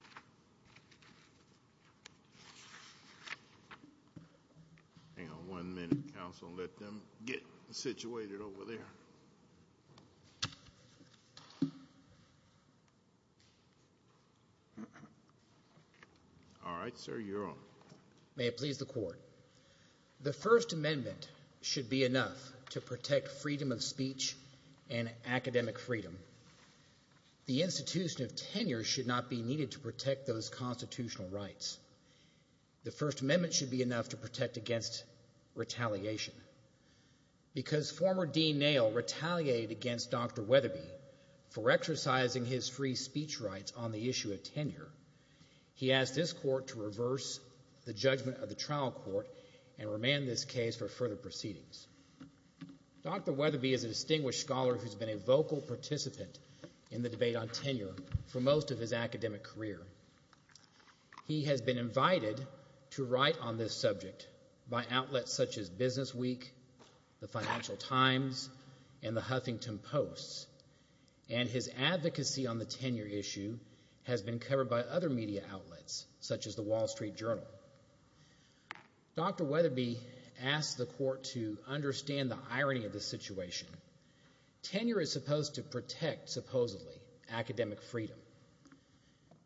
cetera. Hang on one minute, counsel, and let them get situated over there. All right, sir, you're on. May it please the court. The First Amendment should be enough to protect freedom of speech and academic freedom. The institution of tenure should not be needed to protect those constitutional rights. The First Amendment should be enough to protect against retaliation. Because former Dean Nail retaliated against Dr. Wetherbe for exercising his free speech rights on the issue of tenure, he asked this court to reverse the judgment of the trial court and remand this case for further proceedings. Dr. Wetherbe is a distinguished scholar who has been a vocal participant in the debate on tenure for most of his academic career. He has been invited to write on this subject by outlets such as Business Week, the Financial Times, and the Huffington Post. And his advocacy on the tenure issue has been covered by other media outlets, such as the Wall Street Journal. Dr. Wetherbe asked the court to understand the irony of the situation. Tenure is supposed to protect, supposedly, academic freedom.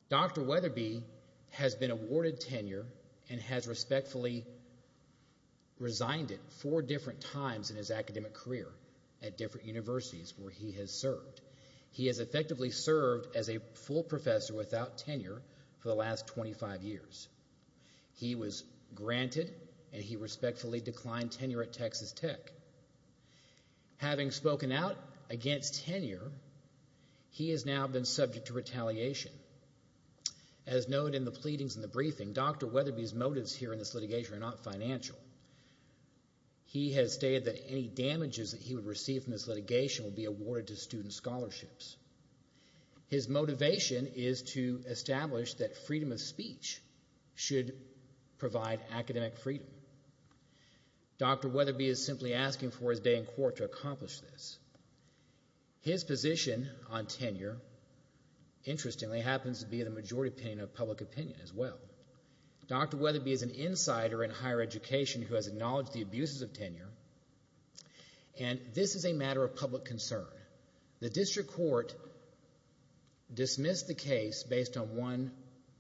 Dr. Wetherbe has been awarded tenure and has respectfully resigned it four different times in his academic career at different universities where he has served. He has effectively served as a full professor without tenure for the last 25 years. He was granted and he respectfully declined tenure at Texas Tech. Having spoken out against tenure, he has now been subject to retaliation. As noted in the pleadings and the briefing, Dr. Wetherbe's motives here in this litigation are not financial. He has stated that any damages that he would receive from this litigation would be awarded to student scholarships. His motivation is to establish that freedom of speech should provide academic freedom. Dr. Wetherbe is simply asking for his day in court to accomplish this. His position on tenure, interestingly, happens to be the majority opinion of public opinion as well. Dr. Wetherbe is an insider in higher education who has acknowledged the abuses of tenure and this is a matter of public concern. The district court dismissed the case based on one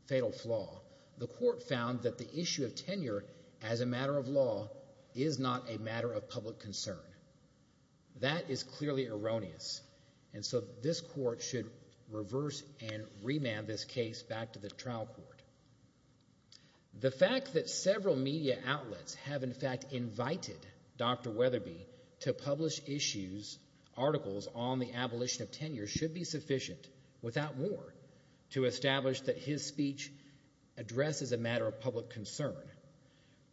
fatal flaw. The court found that the issue of tenure as a matter of law is not a matter of public concern. That is clearly erroneous and so this court should reverse and remand this case back to the trial court. The fact that several media outlets have, in fact, invited Dr. Wetherbe to publish articles on the abolition of tenure should be sufficient, without more, to establish that his speech addresses a matter of public concern,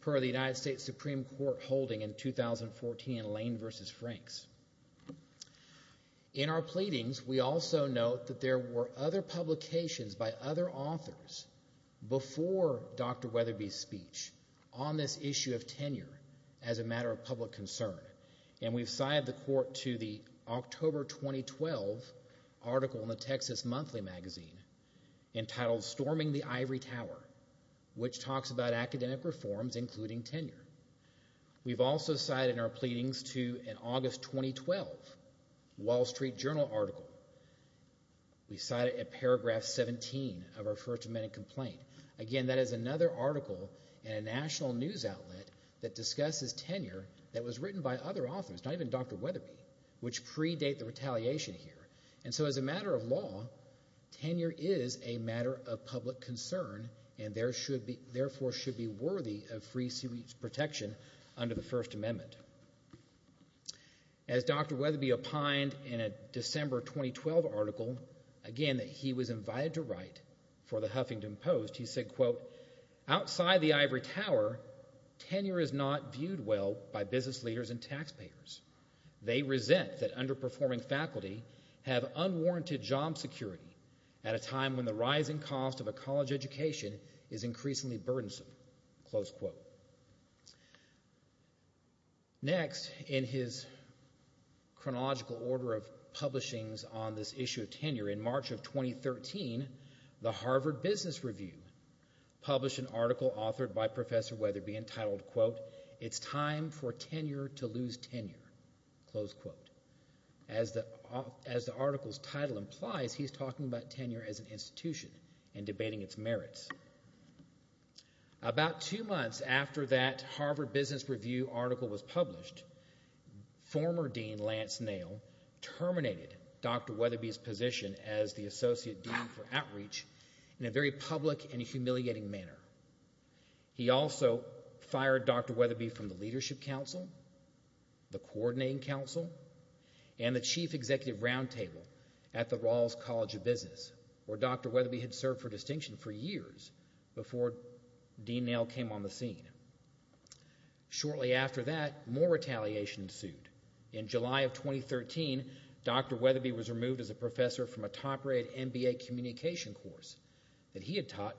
per the United States Supreme Court holding in 2014 in Lane v. Franks. In our pleadings, we also note that there were other publications by other authors before Dr. Wetherbe's speech on this issue of tenure as a matter of public concern and we've cited the court to the October 2012 article in the Texas Monthly Magazine entitled, Storming the Ivory Tower, which talks about academic reforms including tenure. We've also cited in our pleadings to an August 2012 Wall Street Journal article. We cite it at paragraph 17 of our First Amendment complaint. Again, that is another article in a national news outlet that discusses tenure that was written by other authors, not even Dr. Wetherbe, which predate the retaliation here. And so as a matter of law, tenure is a matter of public concern and therefore should be protected under the First Amendment. As Dr. Wetherbe opined in a December 2012 article, again that he was invited to write for the Huffington Post, he said, quote, outside the ivory tower, tenure is not viewed well by business leaders and taxpayers. They resent that underperforming faculty have unwarranted job security at a time when the Next, in his chronological order of publishings on this issue of tenure, in March of 2013, the Harvard Business Review published an article authored by Professor Wetherbe entitled, quote, It's Time for Tenure to Lose Tenure, close quote. As the article's title implies, he's talking about tenure as an institution and debating its merits. About two months after that Harvard Business Review article was published, former Dean Lance Nail terminated Dr. Wetherbe's position as the Associate Dean for Outreach in a very public and humiliating manner. He also fired Dr. Wetherbe from the Leadership Council, the Coordinating Council, and the Chief Executive Roundtable at the Rawls College of Business, where Dr. Wetherbe had served for distinction for years before Dean Nail came on the scene. Shortly after that, more retaliation ensued. In July of 2013, Dr. Wetherbe was removed as a professor from a top-rated MBA communication course that he had taught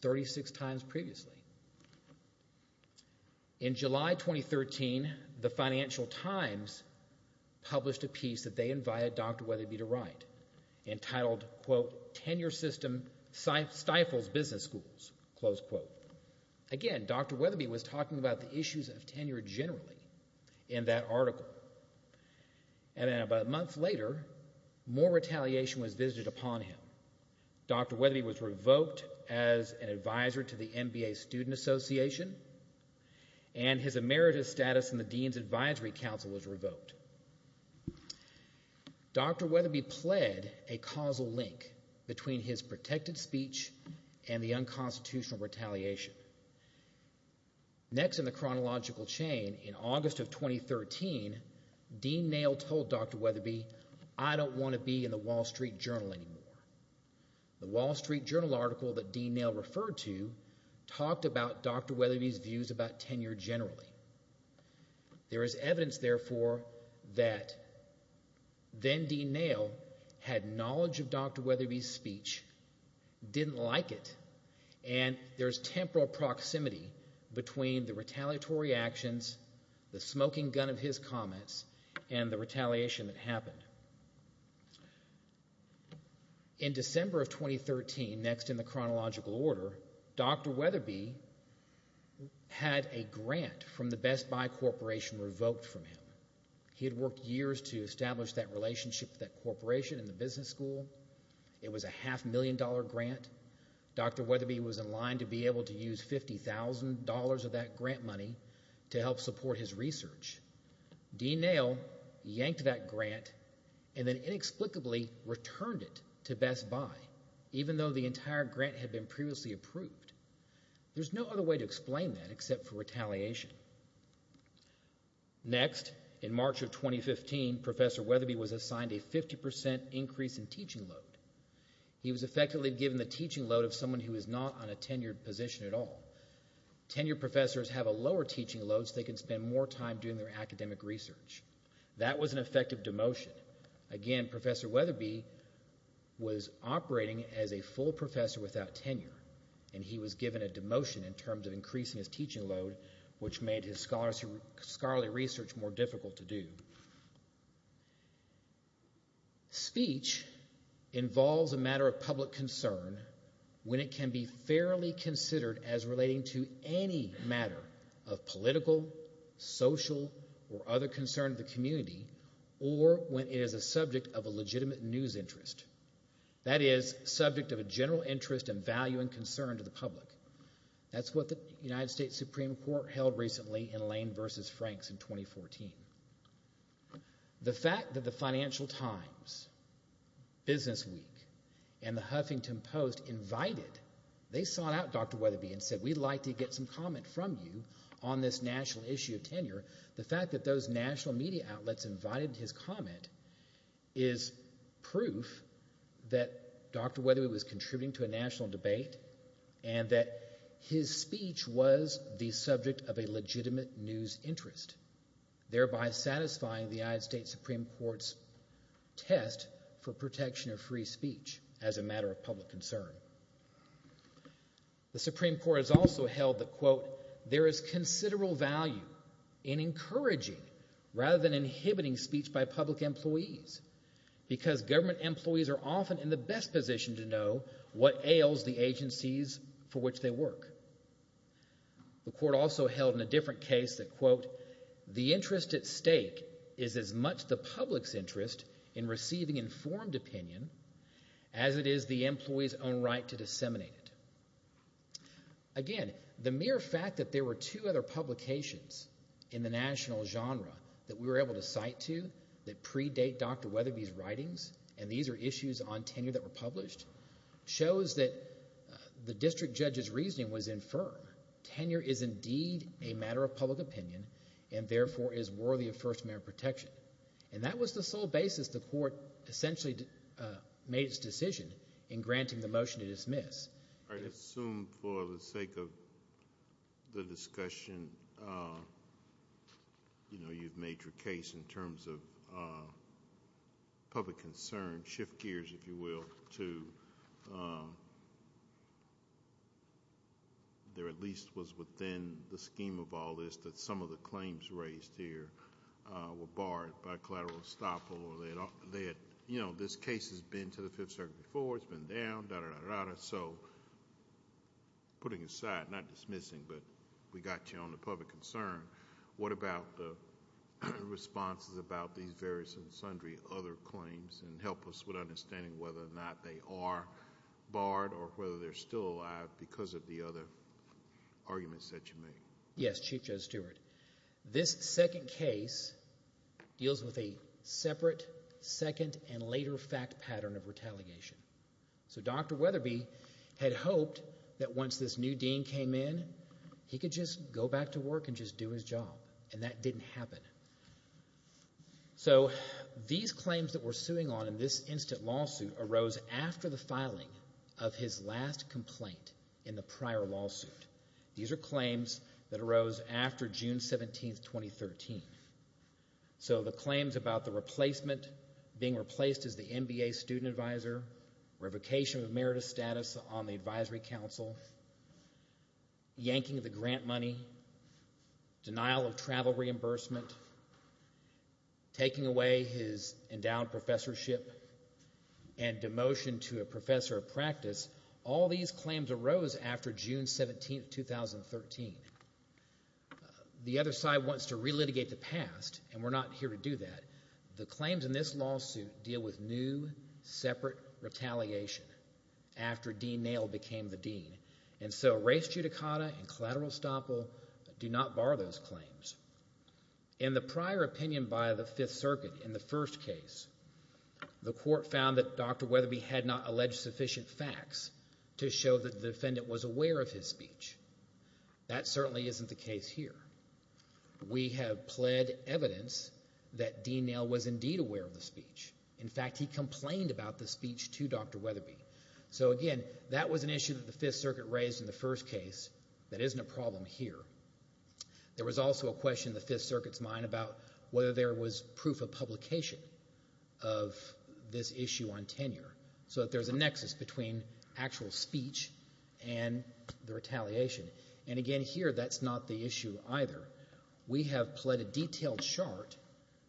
36 times previously. In July 2013, the Financial Times published a piece that they invited Dr. Wetherbe to write, entitled, quote, Tenure System Stifles Business Schools, close quote. Again, Dr. Wetherbe was talking about the issues of tenure generally in that article. And then about a month later, more retaliation was visited upon him. Dr. Wetherbe was revoked as an advisor to the MBA Student Association, and his emeritus post. Dr. Wetherbe pled a causal link between his protected speech and the unconstitutional retaliation. Next in the chronological chain, in August of 2013, Dean Nail told Dr. Wetherbe, I don't want to be in the Wall Street Journal anymore. The Wall Street Journal article that Dean Nail referred to talked about Dr. Wetherbe's views about tenure generally. There is evidence, therefore, that then-Dean Nail had knowledge of Dr. Wetherbe's speech, didn't like it, and there's temporal proximity between the retaliatory actions, the smoking gun of his comments, and the retaliation that happened. In December of 2013, next in the chronological order, Dr. Wetherbe had a grant from the Best Buy Corporation revoked from him. He had worked years to establish that relationship with that corporation in the business school. It was a half-million-dollar grant. Dr. Wetherbe was in line to be able to use $50,000 of that grant money to help support his research. Dean Nail yanked that grant and then inexplicably returned it to Best Buy, even though the entire grant had been previously approved. There's no other way to explain that except for retaliation. Next, in March of 2015, Professor Wetherbe was assigned a 50% increase in teaching load. He was effectively given the teaching load of someone who was not on a tenured position at all. Tenured professors have a lower teaching load so they can spend more time doing their academic research. That was an effective demotion. Again, Professor Wetherbe was operating as a full professor without tenure, and he was given a demotion in terms of increasing his teaching load, which made his scholarly research more difficult to do. Speech involves a matter of public concern when it can be fairly considered as relating to any matter of political, social, or other concern of the community, or when it is a subject of a legitimate news interest. That is, subject of a general interest and value and concern to the public. That's what the United States Supreme Court held recently in Lane v. Franks in 2014. The fact that the Financial Times, Business Week, and the Huffington Post invited, they sought out Dr. Wetherbe and said, we'd like to get some comment from you on this national issue of tenure. The fact that those national media outlets invited his comment is proof that Dr. Wetherbe was contributing to a national debate and that his speech was the subject of a legitimate news interest, thereby satisfying the United States Supreme Court's test for protection of free speech as a matter of public concern. The Supreme Court has also held that, quote, there is considerable value in encouraging rather than inhibiting speech by public employees, because government employees are often in the best position to know what ails the agencies for which they work. The court also held in a different case that, quote, the interest at stake is as much the public's interest in receiving informed opinion as it is the employee's own right to disseminate it. Again, the mere fact that there were two other publications in the national genre that we had that were published shows that the district judge's reasoning was infirm. Tenure is indeed a matter of public opinion and therefore is worthy of First Amendment protection. That was the sole basis the court essentially made its decision in granting the motion to dismiss. I'd assume for the sake of the discussion, you know, you've made your case in terms of public concern, shift gears, if you will, to... there at least was within the scheme of all this that some of the claims raised here were barred by collateral estoppel. This case has been to the Fifth Circuit before, it's been down, da-da-da-da-da-da, so putting aside, not dismissing, but we got you on the public concern. What about the responses about these various and sundry other claims and help us with understanding whether or not they are barred or whether they're still alive because of the other arguments that you made? Yes, Chief Joe Stewart. This second case deals with a separate second and later fact pattern of retaliation. So Dr. Weatherby had hoped that once this new dean came in, he could just go back to his job and just do his job, and that didn't happen. So these claims that we're suing on in this instant lawsuit arose after the filing of his last complaint in the prior lawsuit. These are claims that arose after June 17, 2013. So the claims about the replacement, being replaced as the MBA student advisor, revocation of emeritus status on the advisory council, yanking of the grant money, denial of travel reimbursement, taking away his endowed professorship, and demotion to a professor of practice, all these claims arose after June 17, 2013. The other side wants to re-litigate the past, and we're not here to do that. The claims in this lawsuit deal with new separate retaliation after Dean Nail became the dean, and so race judicata and collateral estoppel do not bar those claims. In the prior opinion by the Fifth Circuit in the first case, the court found that Dr. Weatherby had not alleged sufficient facts to show that the defendant was aware of his speech. That certainly isn't the case here. We have pled evidence that Dean Nail was indeed aware of the speech. In fact, he complained about the speech to Dr. Weatherby. So again, that was an issue that the Fifth Circuit raised in the first case. That isn't a problem here. There was also a question in the Fifth Circuit's mind about whether there was proof of publication of this issue on tenure, so that there's a nexus between actual speech and the retaliation. And again here, that's not the issue either. We have pled a detailed chart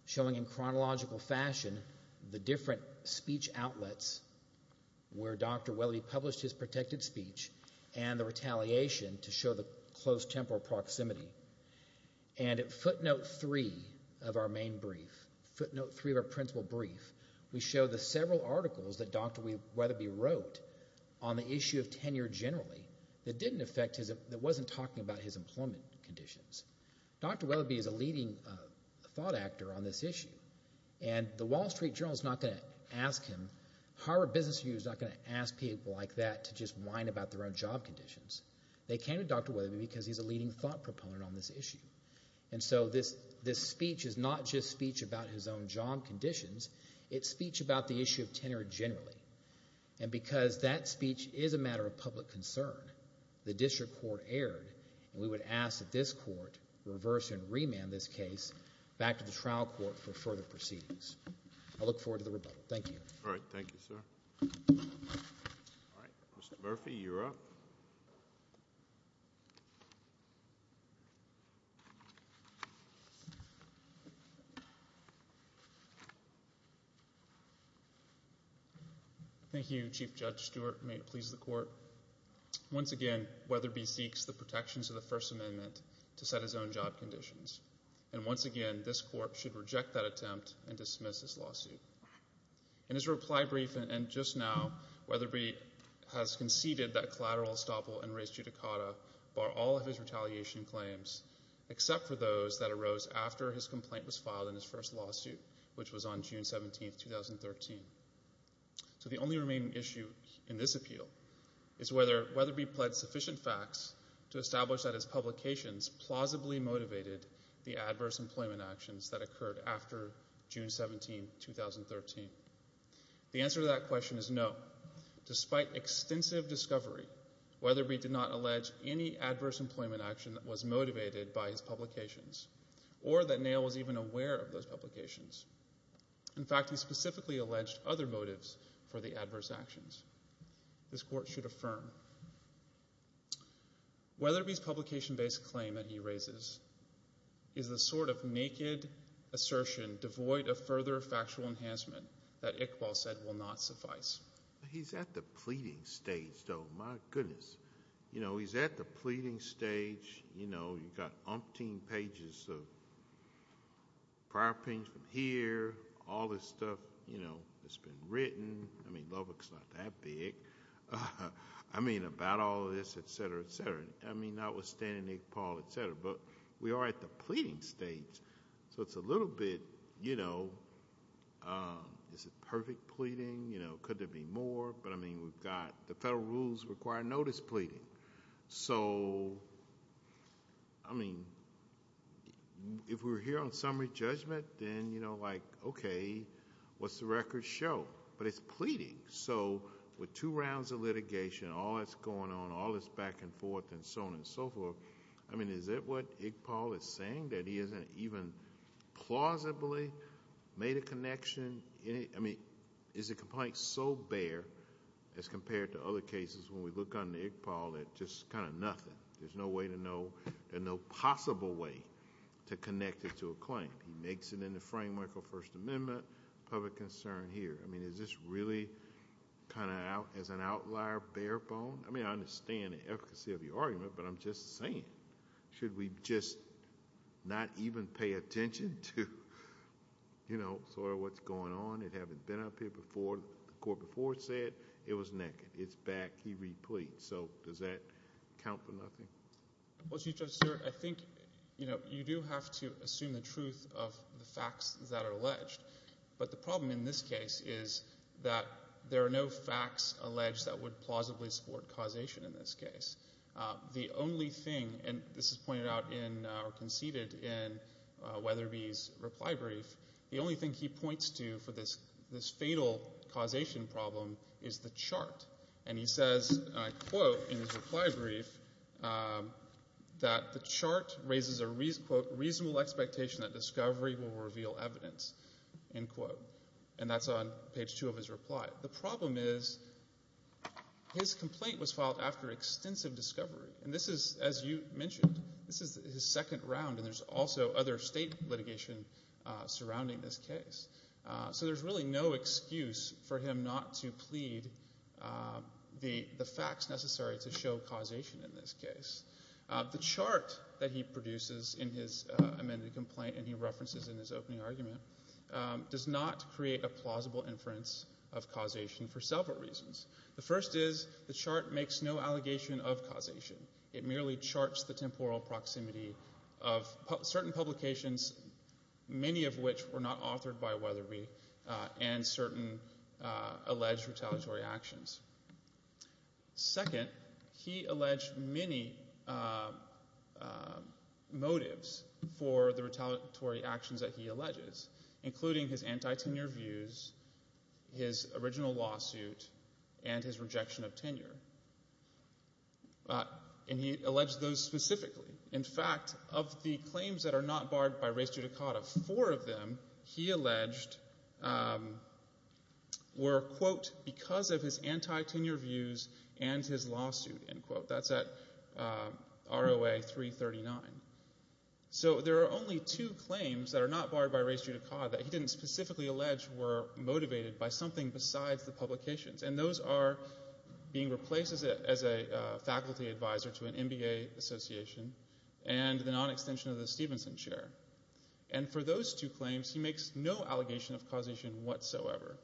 showing in chronological fashion the different speech outlets where Dr. Weatherby published his protected speech and the retaliation to show the close temporal proximity. And at footnote three of our main brief, footnote three of our principal brief, we show the several articles that Dr. Weatherby wrote on the issue of tenure generally that didn't talk about his employment conditions. Dr. Weatherby is a leading thought actor on this issue, and the Wall Street Journal is not going to ask him, Harvard Business Review is not going to ask people like that to just whine about their own job conditions. They came to Dr. Weatherby because he's a leading thought proponent on this issue. And so this speech is not just speech about his own job conditions, it's speech about the issue of tenure generally. And because that speech is a matter of public concern, the district court erred, and we would ask that this court reverse and remand this case back to the trial court for further proceedings. I look forward to the rebuttal. Thank you. All right. Thank you, sir. All right. Mr. Murphy, you're up. Thank you, Chief Judge Stewart, and may it please the court. Once again, Weatherby seeks the protections of the First Amendment to set his own job conditions. And once again, this court should reject that attempt and dismiss this lawsuit. In his reply brief and just now, Weatherby has conceded that collateral estoppel and res judicata bar all of his retaliation claims, except for those that arose after his complaint was filed in his first lawsuit, which was on June 17, 2013. So the only remaining issue in this appeal is whether Weatherby pled sufficient facts to establish that his publications plausibly motivated the adverse employment actions that he made in 2013. The answer to that question is no. Despite extensive discovery, Weatherby did not allege any adverse employment action that was motivated by his publications or that Nail was even aware of those publications. In fact, he specifically alleged other motives for the adverse actions. This court should affirm. Weatherby's publication-based claim that he raises is the sort of naked assertion devoid of further factual enhancement that Iqbal said will not suffice. He's at the pleading stage, though, my goodness. You know, he's at the pleading stage, you know, you've got umpteen pages of prior opinions from here, all this stuff, you know, that's been written, I mean, Lubbock's not that big, I mean, about all of this, et cetera, et cetera, I mean, notwithstanding Iqbal, et cetera. We are at the pleading stage, so it's a little bit, you know, is it perfect pleading, you know, could there be more, but, I mean, we've got the federal rules require notice pleading, so I mean, if we're here on summary judgment, then, you know, like, okay, what's the record show? But it's pleading, so with two rounds of litigation, all that's going on, all this back and forth and so on and so forth, I mean, is that what Iqbal is saying, that he hasn't even plausibly made a connection, I mean, is the complaint so bare as compared to other cases when we look on Iqbal that just kind of nothing, there's no way to know, and no possible way to connect it to a claim. He makes it in the framework of First Amendment, public concern here, I mean, is this really kind of as an outlier, bare bone, I mean, I understand the efficacy of the argument, but I'm just saying, should we just not even pay attention to, you know, sort of what's going on? It haven't been up here before, the court before said it was naked, it's back, he repleads, so does that count for nothing? Well, Chief Justice, I think, you know, you do have to assume the truth of the facts that are alleged, but the problem in this case is that there are no facts alleged that would plausibly support causation in this case. The only thing, and this is pointed out in, or conceded in Weatherby's reply brief, the only thing he points to for this fatal causation problem is the chart, and he says, and I quote in his reply brief, that the chart raises a, quote, reasonable expectation that discovery will reveal evidence, end quote, and that's on page two of his reply. The problem is, his complaint was filed after extensive discovery, and this is, as you mentioned, this is his second round, and there's also other state litigation surrounding this case, so there's really no excuse for him not to plead the facts necessary to show causation in this case. The chart that he produces in his amended complaint, and he references in his opening argument, does not create a plausible inference of causation for several reasons. The first is, the chart makes no allegation of causation. It merely charts the temporal proximity of certain publications, many of which were not authored by Weatherby, and certain alleged retaliatory actions. Second, he alleged many motives for the retaliatory actions that he alleges, including his anti-tenure views, his original lawsuit, and his rejection of tenure, and he alleged those specifically. In fact, of the claims that are not barred by res judicata, four of them, he alleged, were, quote, because of his anti-tenure views and his lawsuit, end quote. That's at ROA 339. So there are only two claims that are not barred by res judicata that he didn't specifically allege were motivated by something besides the publications, and those are being replaced as a faculty advisor to an MBA association, and the non-extension of the Stevenson chair. And for those two claims, he makes no allegation of causation whatsoever.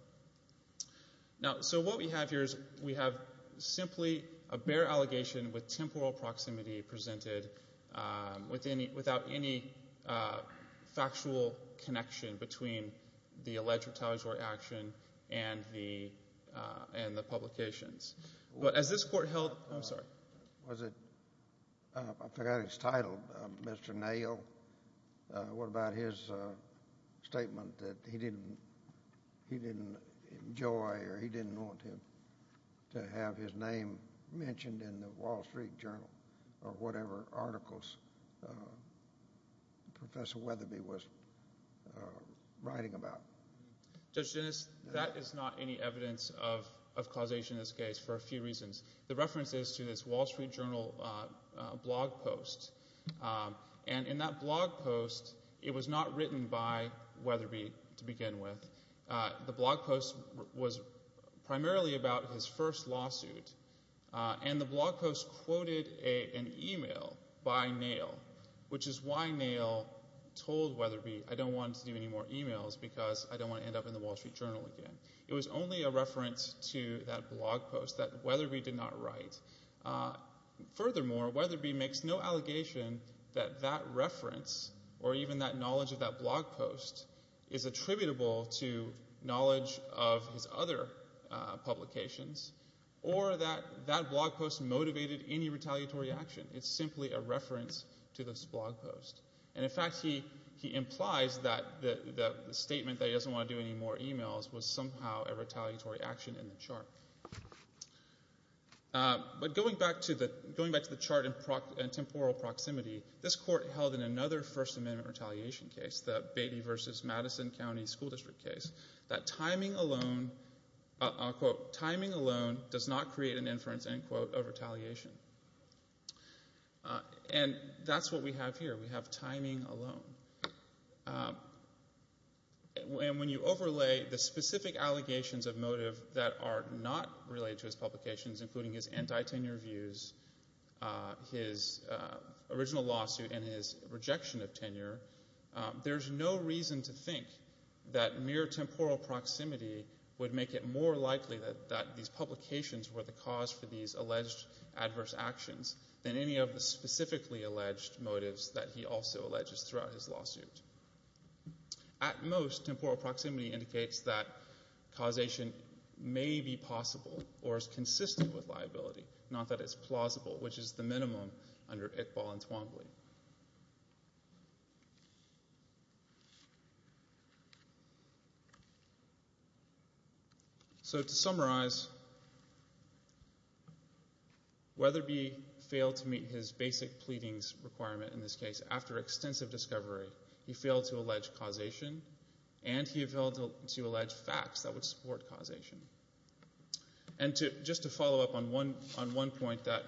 Now so what we have here is, we have simply a bare allegation with temporal proximity presented without any factual connection between the alleged retaliatory action and the publications. Was it, I forgot his title, Mr. Nail? What about his statement that he didn't enjoy or he didn't want him to have his name mentioned in the Wall Street Journal or whatever articles Professor Weatherby was writing about? Judge Dennis, that is not any evidence of causation in this case for a few reasons. The reference is to this Wall Street Journal blog post, and in that blog post, it was not written by Weatherby to begin with. The blog post was primarily about his first lawsuit, and the blog post quoted an email by Nail, which is why Nail told Weatherby, I don't want to do any more emails because I don't want to end up in the Wall Street Journal again. It was only a reference to that blog post that Weatherby did not write. Furthermore, Weatherby makes no allegation that that reference or even that knowledge of that blog post is attributable to knowledge of his other publications or that that blog post motivated any retaliatory action. It's simply a reference to this blog post. And in fact, he implies that the statement that he doesn't want to do any more emails was somehow a retaliatory action in the chart. But going back to the chart in temporal proximity, this court held in another First Amendment retaliation case, the Beatty v. Madison County School District case, that timing alone, I'll quote, timing alone does not create an inference, end quote, of retaliation. And that's what we have here. We have timing alone. And when you overlay the specific allegations of motive that are not related to his publications, including his anti-tenure views, his original lawsuit, and his rejection of tenure, there's no reason to think that mere temporal proximity would make it more likely that these publications were the cause for these alleged adverse actions than any of the specifically alleged motives that he also alleges throughout his lawsuit. At most, temporal proximity indicates that causation may be possible or is consistent with liability, not that it's plausible, which is the minimum under Iqbal and Twombly. So to summarize, Weatherby failed to meet his basic pleadings requirement in this case. After extensive discovery, he failed to allege causation, and he failed to allege facts that would support causation. And just to follow up on one point that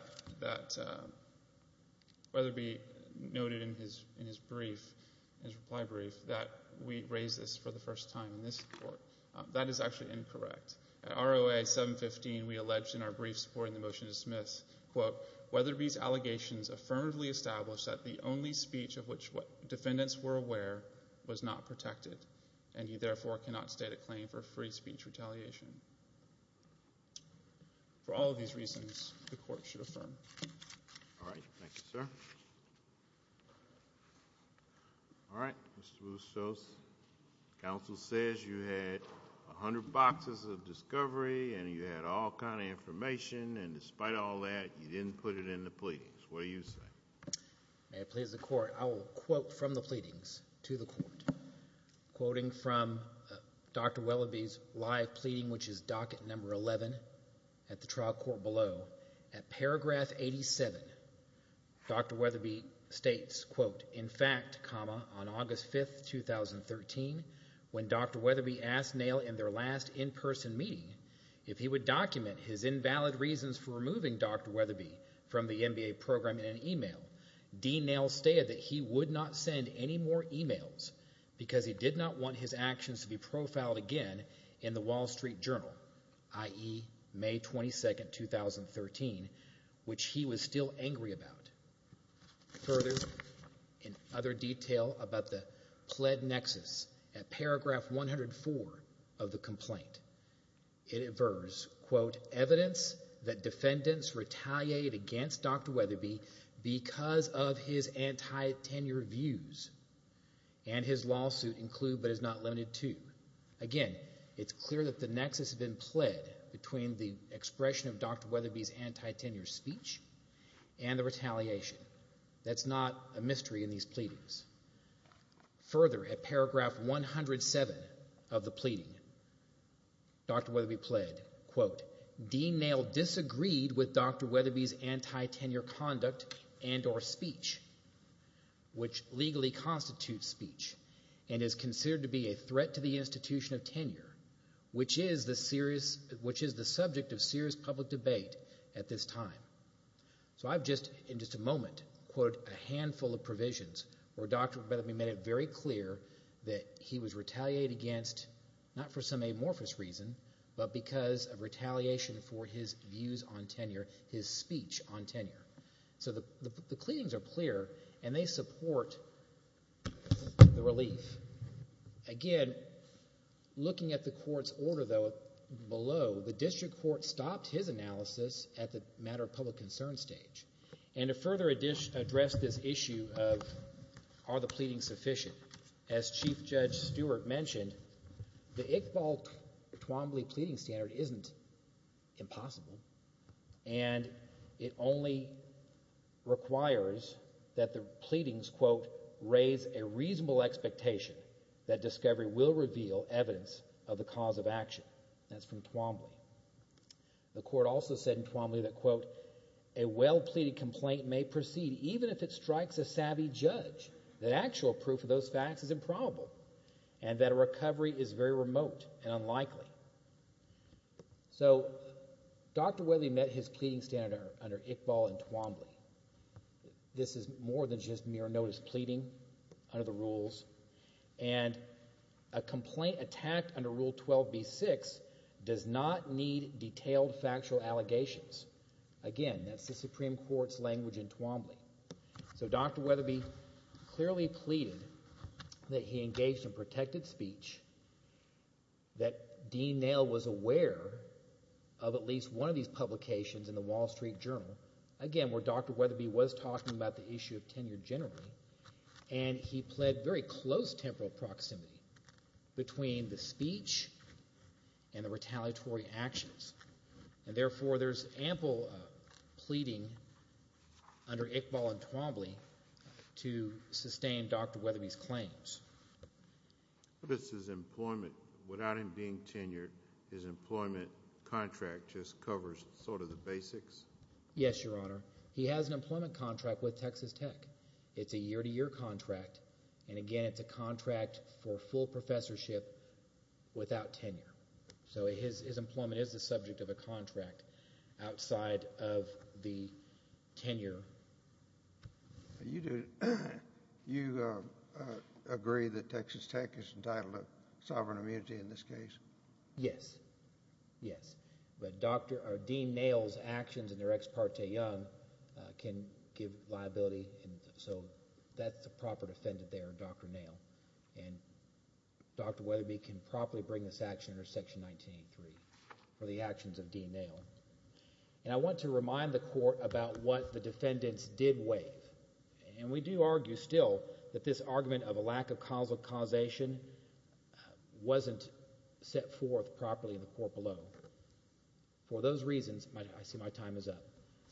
Weatherby noted in his reply brief, that we raised this for the first time in this court, that is actually incorrect. At ROA 715, we alleged in our brief supporting the motion to dismiss, quote, Weatherby's speech of which defendants were aware was not protected, and he therefore cannot state a claim for free speech retaliation. For all of these reasons, the court should affirm. All right. Thank you, sir. All right. Mr. Boussos, counsel says you had 100 boxes of discovery, and you had all kind of information, and despite all that, you didn't put it in the pleadings. What do you say? May it please the court, I will quote from the pleadings to the court. Quoting from Dr. Weatherby's live pleading, which is docket number 11 at the trial court below, at paragraph 87, Dr. Weatherby states, quote, in fact, comma, on August 5th, 2013, when Dr. Weatherby asked Nail in their last in-person meeting if he would document his actions, Dean Nail stated that he would not send any more emails because he did not want his actions to be profiled again in the Wall Street Journal, i.e., May 22nd, 2013, which he was still angry about. Further, in other detail about the pled nexus, at paragraph 104 of the complaint, it adverse, quote, evidence that defendants retaliated against Dr. Weatherby because of his anti-tenure views, and his lawsuit include but is not limited to. Again, it's clear that the nexus has been pled between the expression of Dr. Weatherby's anti-tenure speech and the retaliation. That's not a mystery in these pleadings. Further, at paragraph 107 of the pleading, Dr. Weatherby pled, quote, Dean Nail disagreed with Dr. Weatherby's anti-tenure conduct and or speech, which legally constitutes speech and is considered to be a threat to the institution of tenure, which is the serious, which is the subject of serious public debate at this time. So I've just, in just a moment, put a handful of provisions where Dr. Weatherby made it very clear that he was retaliated against, not for some amorphous reason, but because of retaliation for his views on tenure, his speech on tenure. So the pleadings are clear, and they support the relief. Again, looking at the court's order, though, below, the district court stopped his analysis at the matter of public concern stage. And to further address this issue of are the pleadings sufficient, as Chief Judge Stewart mentioned, the Iqbal-Twombly pleading standard isn't impossible, and it only requires that the pleadings, quote, raise a reasonable expectation that discovery will reveal evidence of the cause of action. That's from Twombly. The court also said in Twombly that, quote, a well-pleaded complaint may proceed even if it strikes a savvy judge that actual proof of those facts is improbable and that a recovery is very remote and unlikely. So Dr. Weatherby met his pleading standard under Iqbal and Twombly. This is more than just mere notice pleading under the rules. And a complaint attacked under Rule 12b-6 does not need detailed factual allegations. Again, that's the Supreme Court's language in Twombly. So Dr. Weatherby clearly pleaded that he engaged in protected speech, that Dean Nail was aware of at least one of these publications in the Wall Street Journal, again, where Dr. Weatherby was talking about the issue of tenure generally, and he pled very close temporal proximity between the speech and the retaliatory actions. And therefore, there's ample pleading under Iqbal and Twombly to sustain Dr. Weatherby's claims. But this is employment. Without him being tenured, his employment contract just covers sort of the basics? Yes, Your Honor. He has an employment contract with Texas Tech. It's a year-to-year contract. And again, it's a contract for full professorship without tenure. So his employment is the subject of a contract outside of the tenure. You agree that Texas Tech is entitled to sovereign immunity in this case? Yes, yes. But Dean Nail's actions in their ex parte young can give liability. So that's the proper defendant there, Dr. Nail. And Dr. Weatherby can properly bring this action under Section 1983 for the actions of Dean Nail. And I want to remind the Court about what the defendants did waive. And we do argue still that this argument of a lack of causal causation wasn't set forth properly in the court below. For those reasons, I see my time is up.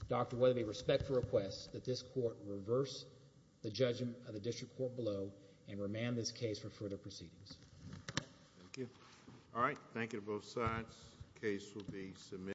Dr. Weatherby, respect the request that this court reverse the judgment of the district court below and remand this case for further proceedings. Thank you. All right, thank you to both sides. The case will be submitted.